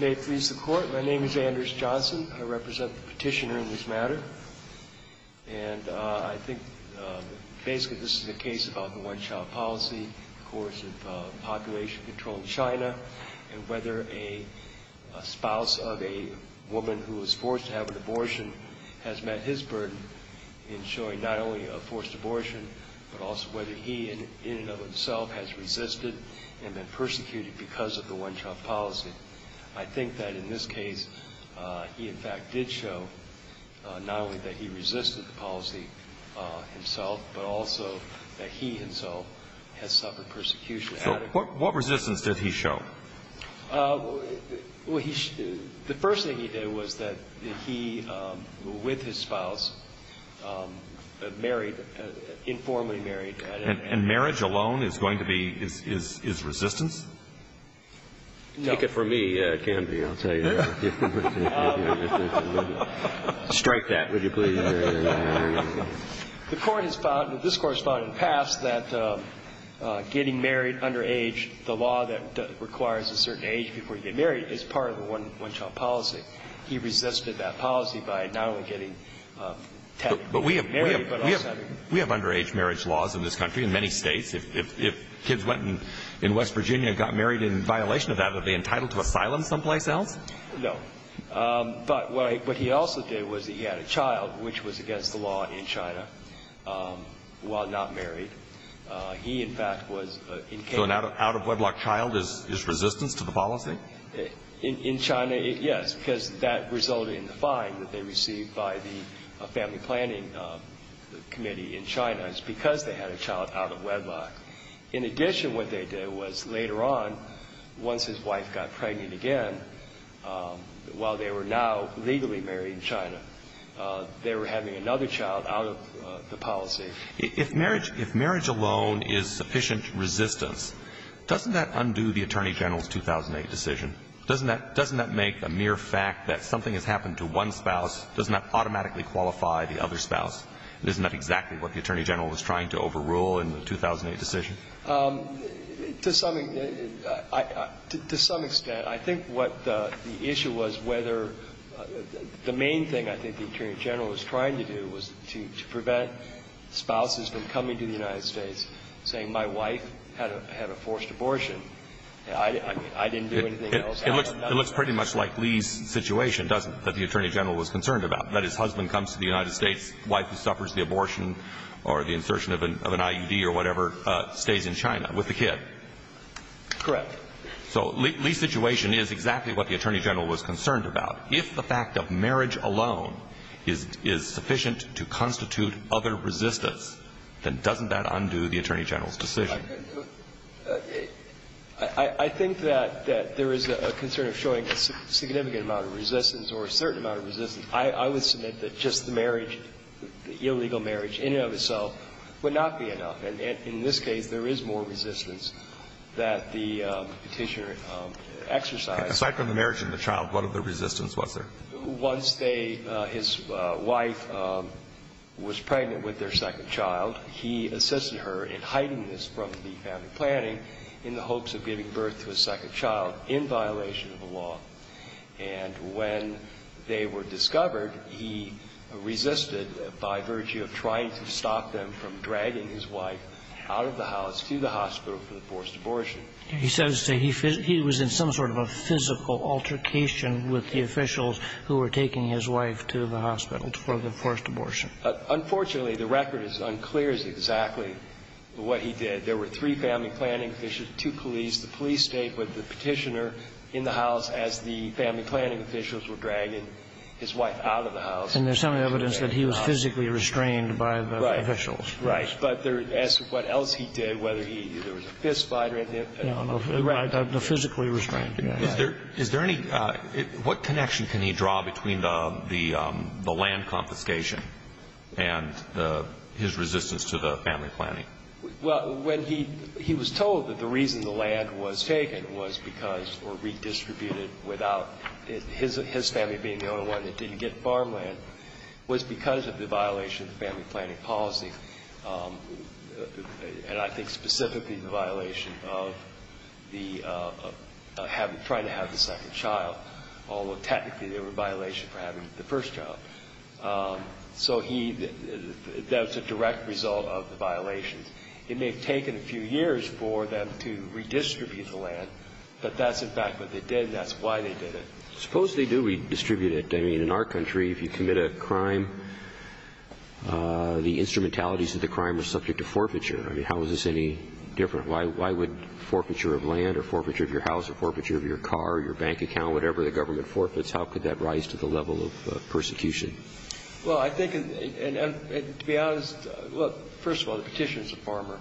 May it please the Court, my name is Anders Johnson. I represent the petitioner in this matter, and I think basically this is a case about the one-child policy, the course of population-controlled China, and whether a spouse of a woman who was forced to have an abortion has met his burden in showing not only a forced abortion, but also whether he, in and of himself, has resisted and been persecuted because of the one-child policy. I think that in this case he, in fact, did show not only that he resisted the policy himself, but also that he, himself, has suffered persecution. So what resistance did he show? Well, the first thing he did was that he, with his spouse, married, informally married. And marriage alone is going to be his resistance? No. Take it from me, Canby, I'll tell you. Strike that, would you please? The Court has found, and this Court has found in the past, that getting married underage, the law that requires a certain age before you get married, is part of the one-child policy. He resisted that policy by not only getting married, but also having children. We have underage marriage laws in this country, in many states. If kids went in West Virginia and got married in violation of that, would they be entitled to asylum someplace else? No. But what he also did was he had a child, which was against the law in China, while not married. He, in fact, was in Canby. So an out-of-wedlock child is resistance to the policy? In China, yes, because that resulted in the fine that they received by the family planning committee in China. It's because they had a child out of wedlock. In addition, what they did was later on, once his wife got pregnant again, while they were now legally married in China, they were having another child out of the policy. If marriage alone is sufficient resistance, doesn't that undo the Attorney General's 2008 decision? Doesn't that make a mere fact that something has happened to one spouse? Doesn't that automatically qualify the other spouse? Isn't that exactly what the Attorney General was trying to overrule in the 2008 decision? To some extent. I think what the issue was whether the main thing I think the Attorney General was trying to do was to prevent spouses from coming to the United States saying my wife had a forced abortion. I didn't do anything else. It looks pretty much like Lee's situation, doesn't it, that the Attorney General was concerned about, that his husband comes to the United States, wife suffers the abortion or the insertion of an IUD or whatever, stays in China with the kid. Correct. So Lee's situation is exactly what the Attorney General was concerned about. If the fact of marriage alone is sufficient to constitute other resistance, then doesn't that undo the Attorney General's decision? I think that there is a concern of showing a significant amount of resistance or a certain amount of resistance. I would submit that just the marriage, the illegal marriage in and of itself, would not be enough. And in this case, there is more resistance that the Petitioner exercised. Aside from the marriage and the child, what other resistance was there? Once his wife was pregnant with their second child, he assisted her in hiding this from the family planning in the hopes of giving birth to a second child in violation of the law. And when they were discovered, he resisted by virtue of trying to stop them from dragging his wife out of the house to the hospital for the forced abortion. He says that he was in some sort of a physical altercation with the officials who were taking his wife to the hospital for the forced abortion. Unfortunately, the record is unclear as to exactly what he did. There were three family planning officials, two police. The police stayed with the Petitioner in the house as the family planning officials were dragging his wife out of the house. And there's some evidence that he was physically restrained by the officials. Right. But as to what else he did, whether there was a fist fight or anything. No, no. Physically restrained. Is there any ñ what connection can he draw between the land confiscation and his resistance to the family planning? Well, when he was told that the reason the land was taken was because or redistributed without his family being the only one that didn't get farmland was because of the violation of the family planning policy, and I think specifically the violation of the having ñ trying to have the second child, although technically they were a violation for having the first child. So he ñ that was a direct result of the violations. It may have taken a few years for them to redistribute the land, but that's in fact what they did and that's why they did it. Suppose they do redistribute it. I mean, in our country, if you commit a crime, the instrumentalities of the crime are subject to forfeiture. I mean, how is this any different? Why would forfeiture of land or forfeiture of your house or forfeiture of your car, your bank account, whatever, the government forfeits, how could that rise to the level of persecution? Well, I think ñ and to be honest, look, first of all, the Petitioner is a farmer.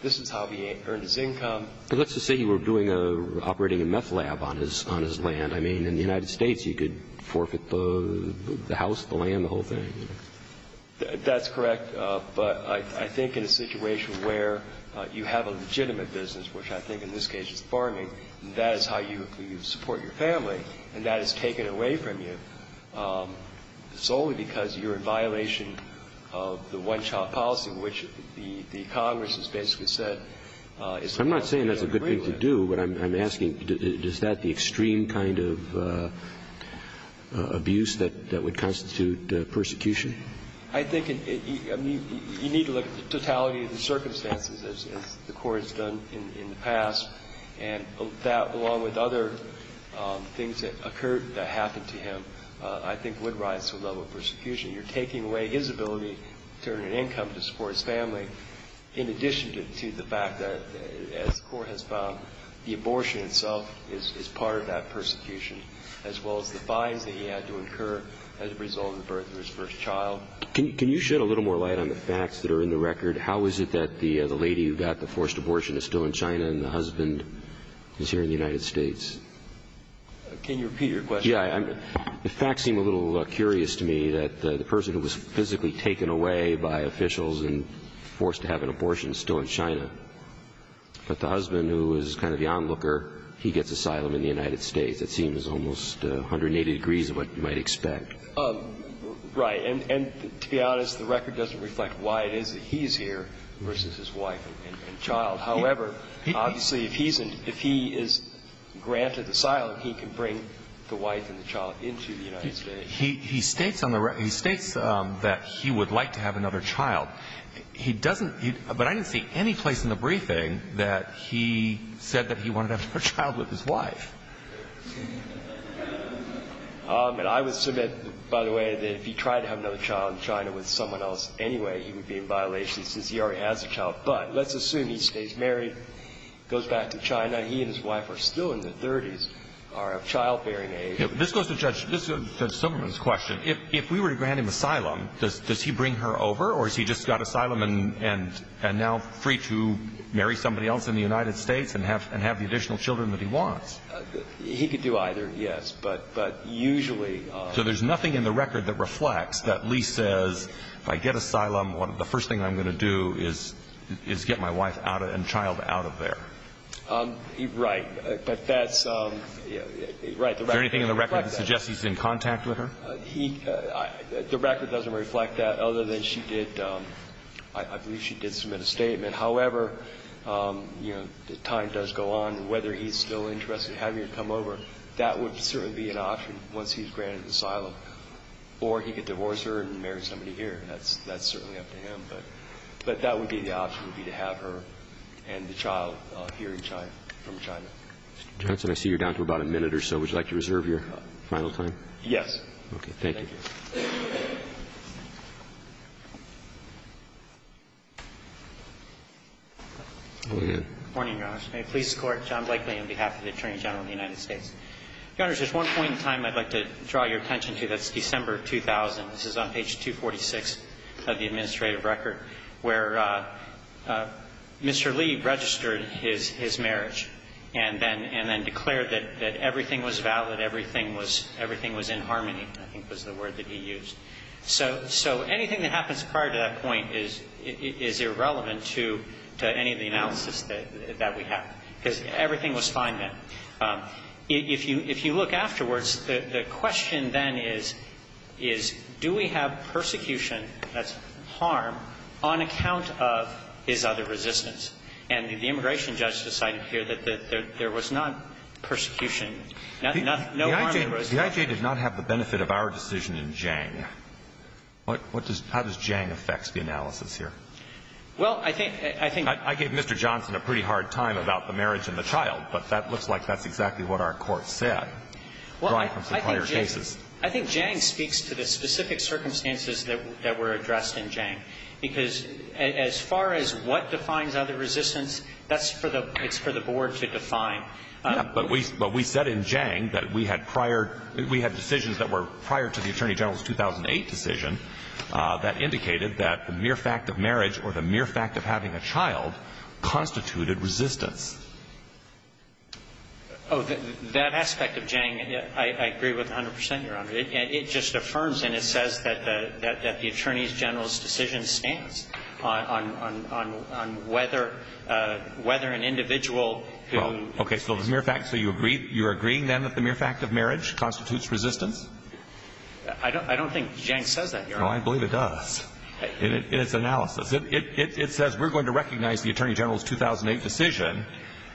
This is how he earned his income. But let's just say he were doing a ñ operating a meth lab on his ñ on his land. I mean, in the United States, he could forfeit the house, the land, the whole thing. That's correct. But I think in a situation where you have a legitimate business, which I think in this case is farming, and that is how you support your family, and that is taken away from you solely because you're in violation of the one-child policy, which the Congress has basically said is ñ I'm not saying that's a good thing to do. But I'm asking, is that the extreme kind of abuse that would constitute persecution? I think it ñ I mean, you need to look at the totality of the circumstances as the Court has done in the past. And that, along with other things that occurred that happened to him, I think would rise to the level of persecution. You're taking away his ability to earn an income to support his family in addition to the fact that, as the Court has found, the abortion itself is part of that persecution, as well as the fines that he had to incur as a result of the birth of his first child. Can you shed a little more light on the facts that are in the record? How is it that the lady who got the forced abortion is still in China and the husband is here in the United States? Can you repeat your question? Yeah. The facts seem a little curious to me, that the person who was physically taken away by officials and forced to have an abortion is still in China. But the husband, who is kind of the onlooker, he gets asylum in the United States. It seems almost 180 degrees of what you might expect. Right. And to be honest, the record doesn't reflect why it is that he's here versus his wife and child. However, obviously, if he is granted asylum, he can bring the wife and the child into the United States. He states on the record, he states that he would like to have another child. He doesn't, but I didn't see any place in the briefing that he said that he wanted to have another child with his wife. And I would submit, by the way, that if he tried to have another child in China with someone else anyway, he would be in violation since he already has a child. But let's assume he stays married, goes back to China. He and his wife are still in their 30s, are of childbearing age. This goes to Judge Silberman's question. If we were to grant him asylum, does he bring her over, or has he just got asylum and now free to marry somebody else in the United States and have the additional children that he wants? He could do either, yes. But usually – So there's nothing in the record that reflects that Lee says, if I get asylum, the first thing I'm going to do is get my wife and child out of there. Right. But that's – right. Is there anything in the record that suggests he's in contact with her? He – the record doesn't reflect that, other than she did – I believe she did submit a statement. However, you know, time does go on. Whether he's still interested in having her come over, that would certainly be an option once he's granted asylum. Or he could divorce her and marry somebody here. That's certainly up to him. But that would be the option, would be to have her and the child here in China from China. Mr. Johnson, I see you're down to about a minute or so. Would you like to reserve your final time? Yes. Okay. Thank you. Go ahead. Good morning, Your Honor. May it please the Court. John Blakely on behalf of the Attorney General of the United States. Your Honor, there's one point in time I'd like to draw your attention to. That's December 2000. This is on page 246 of the administrative record where Mr. Lee registered his marriage and then declared that everything was valid, everything was in harmony, I think was the word that he used. So anything that happens prior to that point is irrelevant to any of the analysis that we have, because everything was fine then. If you look afterwards, the question then is, do we have persecution, that's harm, on account of his other resistance? And the immigration judge decided here that there was not persecution. No harm was done. The IJ did not have the benefit of our decision in Zhang. How does Zhang affect the analysis here? Well, I think Mr. Johnson had a pretty hard time about the marriage and the child, but that looks like that's exactly what our Court said. Well, I think Zhang speaks to the specific circumstances that were addressed in Zhang, because as far as what defines other resistance, that's for the Board to define. Yeah. But we said in Zhang that we had prior, we had decisions that were prior to the Attorney General's 2008 decision that indicated that the mere fact of marriage or the mere fact of having a child constituted resistance. Oh, that aspect of Zhang, I agree with 100 percent, Your Honor. It just affirms and it says that the Attorney General's decision stands on whether an individual who ---- Okay. So the mere fact, so you agree, you're agreeing then that the mere fact of marriage constitutes resistance? I don't think Zhang says that, Your Honor. No, I believe it does in its analysis. It says we're going to recognize the Attorney General's 2008 decision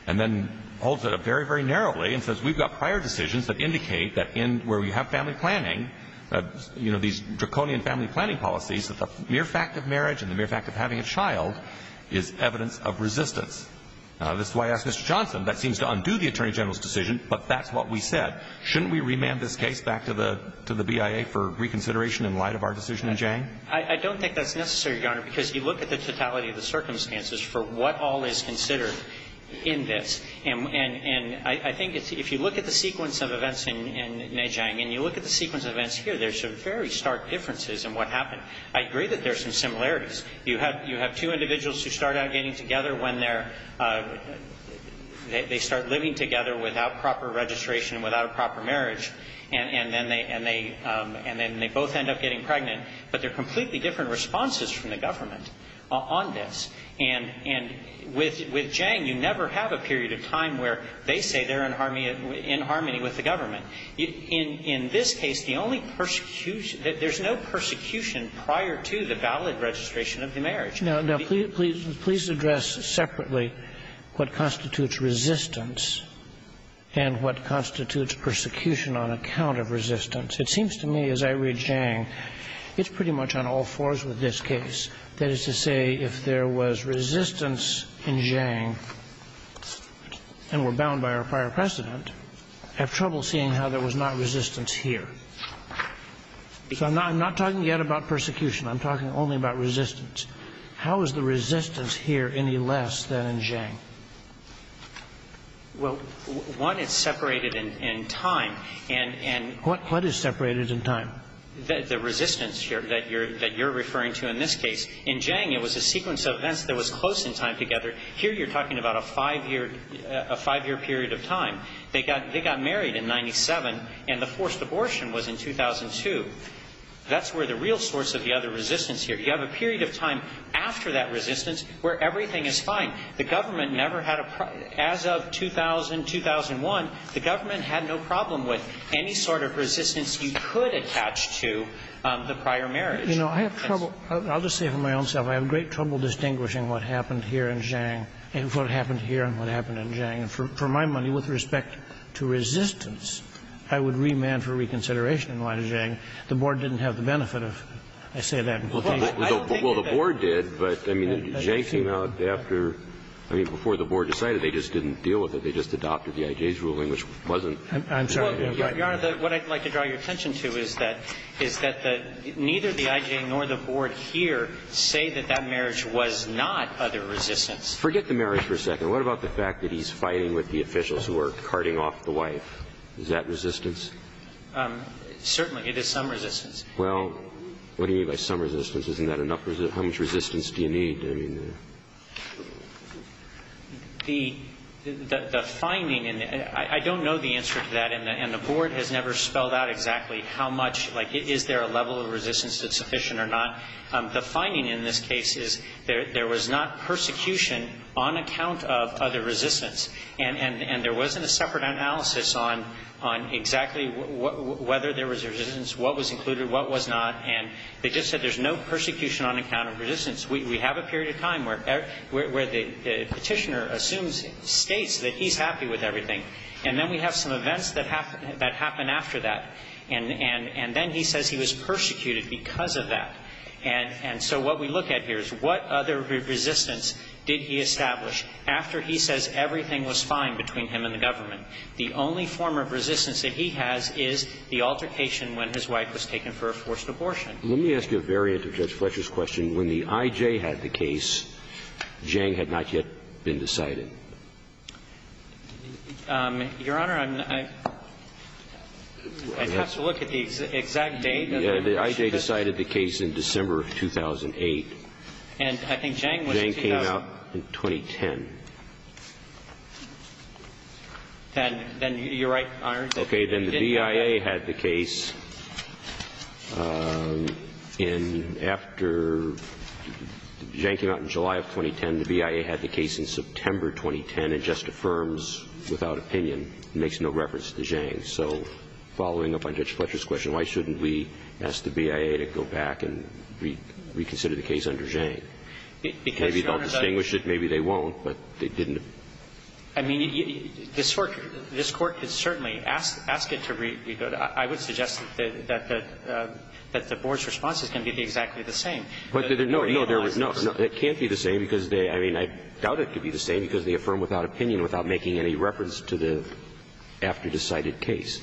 and then holds it up very, very narrowly and says we've got prior decisions that indicate that in, where we have family planning, you know, these draconian family planning policies, that the mere fact of marriage and the mere fact of having a child is evidence of resistance. This is why I asked Mr. Johnson. That seems to undo the Attorney General's decision, but that's what we said. Shouldn't we remand this case back to the BIA for reconsideration in light of our decision in Zhang? I don't think that's necessary, Your Honor, because you look at the totality of the circumstances for what all is considered in this. And I think if you look at the sequence of events in Nei Jiang and you look at the sequence of events here, there's some very stark differences in what happened. I agree that there's some similarities. You have two individuals who start out getting together when they're, they start living together without proper registration, without a proper marriage, and then they both end up getting pregnant. But there are completely different responses from the government on this. And with Zhang, you never have a period of time where they say they're in harmony with the government. In this case, the only persecution, there's no persecution prior to the valid registration of the marriage. Now, please address separately what constitutes resistance and what constitutes persecution on account of resistance. It seems to me as I read Zhang, it's pretty much on all fours with this case. That is to say, if there was resistance in Zhang and were bound by our prior precedent, I have trouble seeing how there was not resistance here. So I'm not talking yet about persecution. I'm talking only about resistance. How is the resistance here any less than in Zhang? Well, one, it's separated in time. What is separated in time? The resistance that you're referring to in this case. In Zhang, it was a sequence of events that was close in time together. Here you're talking about a five-year period of time. They got married in 97, and the forced abortion was in 2002. That's where the real source of the other resistance here. You have a period of time after that resistance where everything is fine. The government never had a problem. I don't have a problem with any sort of resistance you could attach to the prior marriage. You know, I have trouble. I'll just say for myself, I have great trouble distinguishing what happened here in Zhang and what happened here and what happened in Zhang. And for my money, with respect to resistance, I would remand for reconsideration in light of Zhang. The Board didn't have the benefit of, I say that in conclusion. Well, the Board did, but, I mean, Zhang came out after, I mean, before the Board decided, they just didn't deal with it. They just adopted the IJ's ruling, which wasn't. I'm sorry. Your Honor, what I'd like to draw your attention to is that neither the IJ nor the Board here say that that marriage was not other resistance. Forget the marriage for a second. What about the fact that he's fighting with the officials who are carting off the wife? Is that resistance? Certainly. It is some resistance. Well, what do you mean by some resistance? Isn't that enough? How much resistance do you need? The finding, and I don't know the answer to that, and the Board has never spelled out exactly how much, like, is there a level of resistance that's sufficient or not. The finding in this case is there was not persecution on account of other resistance. And there wasn't a separate analysis on exactly whether there was resistance, what was included, what was not. And they just said there's no persecution on account of resistance. We have a period of time where the Petitioner assumes, states that he's happy with everything. And then we have some events that happen after that. And then he says he was persecuted because of that. And so what we look at here is what other resistance did he establish after he says everything was fine between him and the government? The only form of resistance that he has is the altercation when his wife was taken for a forced abortion. Let me ask you a variant of Judge Fletcher's question. When the I.J. had the case, Jang had not yet been decided. Your Honor, I have to look at the exact date. The I.J. decided the case in December of 2008. And I think Jang was in 2010. Jang came out in 2010. Then you're right, Your Honor. Okay. Then the BIA had the case in after Jang came out in July of 2010. The BIA had the case in September 2010 and just affirms without opinion. It makes no reference to Jang. So following up on Judge Fletcher's question, why shouldn't we ask the BIA to go back and reconsider the case under Jang? Maybe they'll distinguish it. Maybe they won't. But they didn't. I mean, this Court could certainly ask it to re-go. I would suggest that the Board's response is going to be exactly the same. No, no. It can't be the same because they – I mean, I doubt it could be the same because they affirm without opinion, without making any reference to the after-decided case.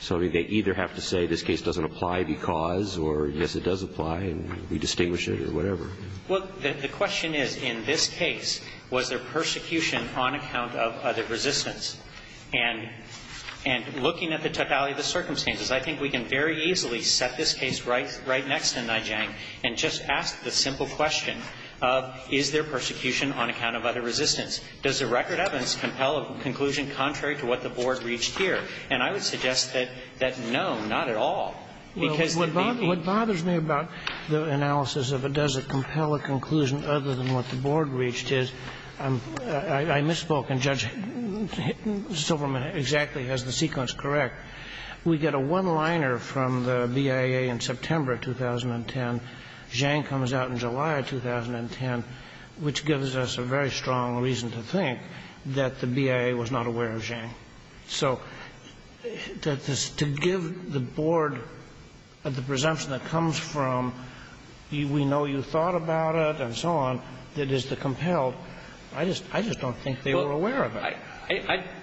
So they either have to say this case doesn't apply because, or yes, it does apply and we distinguish it or whatever. Well, the question is, in this case, was there persecution on account of other resistance? And looking at the totality of the circumstances, I think we can very easily set this case right next to Najang and just ask the simple question of, is there persecution on account of other resistance? Does the record evidence compel a conclusion contrary to what the Board reached And I would suggest that no, not at all. What bothers me about the analysis of does it compel a conclusion other than what the Board reached is, I misspoke and Judge Silverman exactly has the sequence correct. We get a one-liner from the BIA in September 2010. Jang comes out in July 2010, which gives us a very strong reason to think that the BIA was not aware of Jang. So to give the Board the presumption that comes from, we know you thought about it and so on, that is to compel, I just don't think they were aware of it.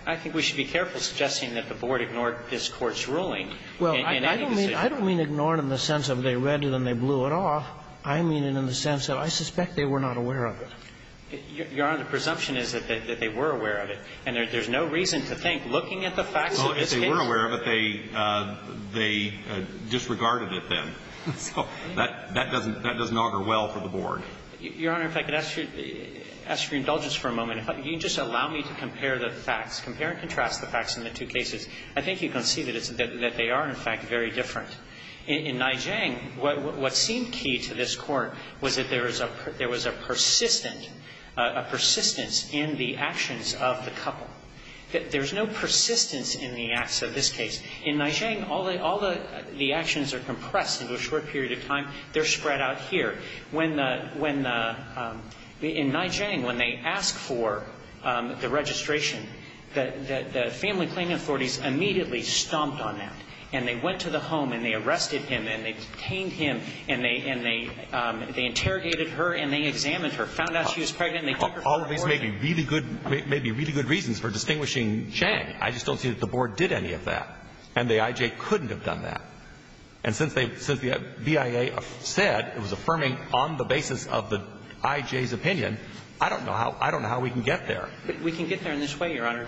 I think we should be careful suggesting that the Board ignored this Court's ruling in any decision. Well, I don't mean ignore it in the sense of they read it and they blew it off. I mean it in the sense that I suspect they were not aware of it. Your Honor, the presumption is that they were aware of it. And there's no reason to think looking at the facts of this case. Well, if they were aware of it, they disregarded it then. So that doesn't augur well for the Board. Your Honor, if I could ask your indulgence for a moment. If you can just allow me to compare the facts, compare and contrast the facts in the two cases. I think you can see that they are, in fact, very different. In Nai Jang, what seemed key to this Court was that there was a persistent persistence in the actions of the couple. There's no persistence in the acts of this case. In Nai Jang, all the actions are compressed into a short period of time. They're spread out here. In Nai Jang, when they asked for the registration, the family claim authorities immediately stomped on that. And they went to the home and they arrested him and they detained him and they interrogated her and they examined her. They found out she was pregnant and they took her to court. All of these may be really good reasons for distinguishing Jang. I just don't see that the Board did any of that. And the I.J. couldn't have done that. And since the BIA said it was affirming on the basis of the I.J.'s opinion, I don't know how we can get there. We can get there in this way, Your Honor.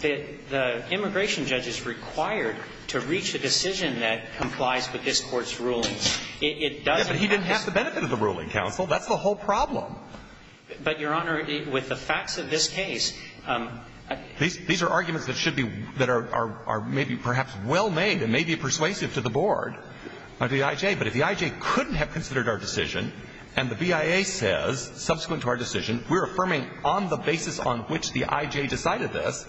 The immigration judge is required to reach a decision that complies with this Court's ruling. It doesn't have to. Yeah, but he didn't have the benefit of the ruling, counsel. That's the whole problem. But, Your Honor, with the facts of this case — These are arguments that should be — that are maybe perhaps well made and may be persuasive to the Board of the I.J. But if the I.J. couldn't have considered our decision and the BIA says, subsequent to our decision, we're affirming on the basis on which the I.J. decided this,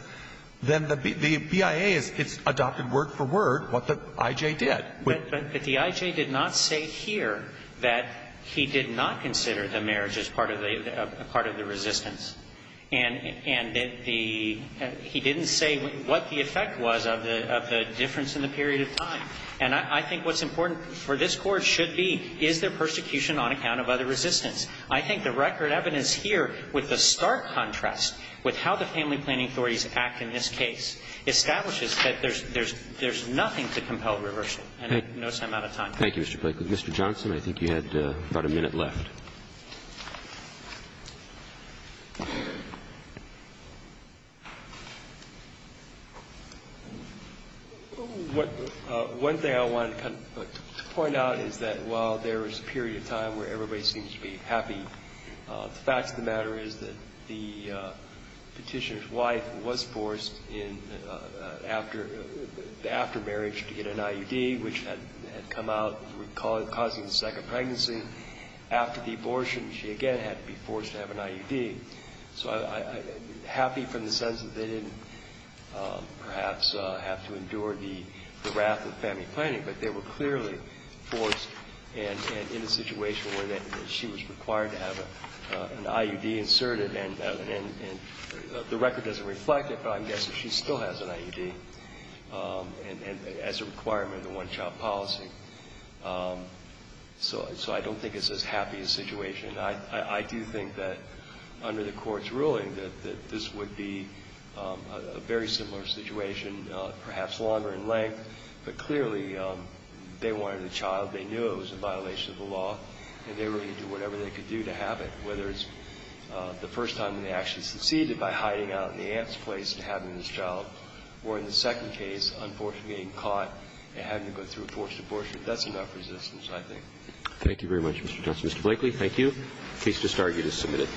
then the BIA has adopted word for word what the I.J. did. But the I.J. did not say here that he did not consider the marriage as part of the resistance. And he didn't say what the effect was of the difference in the period of time. And I think what's important for this Court should be, is there persecution on account of other resistance? I think the record evidence here, with the stark contrast with how the family planning authorities act in this case, establishes that there's nothing to compel reversal, and no time out of time. Roberts. Thank you, Mr. Blakely. Mr. Johnson, I think you had about a minute left. Johnson. One thing I wanted to point out is that while there is a period of time where everybody seems to be happy, the facts of the matter is that the Petitioner's wife was forced in after marriage to get an IUD, which had come out causing the second pregnancy. After the abortion, she again had to be forced to have an IUD. So I'm happy from the sense that they didn't perhaps have to endure the wrath of family planning, but they were clearly forced and in a situation where she was required to have an IUD inserted. And the record doesn't reflect it, but I'm guessing she still has an IUD as a requirement of the one-child policy. So I don't think it's as happy a situation. I do think that under the Court's ruling that this would be a very similar situation, perhaps longer in length, but clearly they wanted a child, they knew it was a violation of the law, and they were going to do whatever they could do to have it, whether it's the first time when they actually succeeded by hiding out in the aunt's place and having this child, or in the second case, unfortunately being caught and having to go through a forced abortion. That's enough resistance, I think. Thank you very much, Mr. Johnson. Mr. Blakely, thank you. The case is discharged.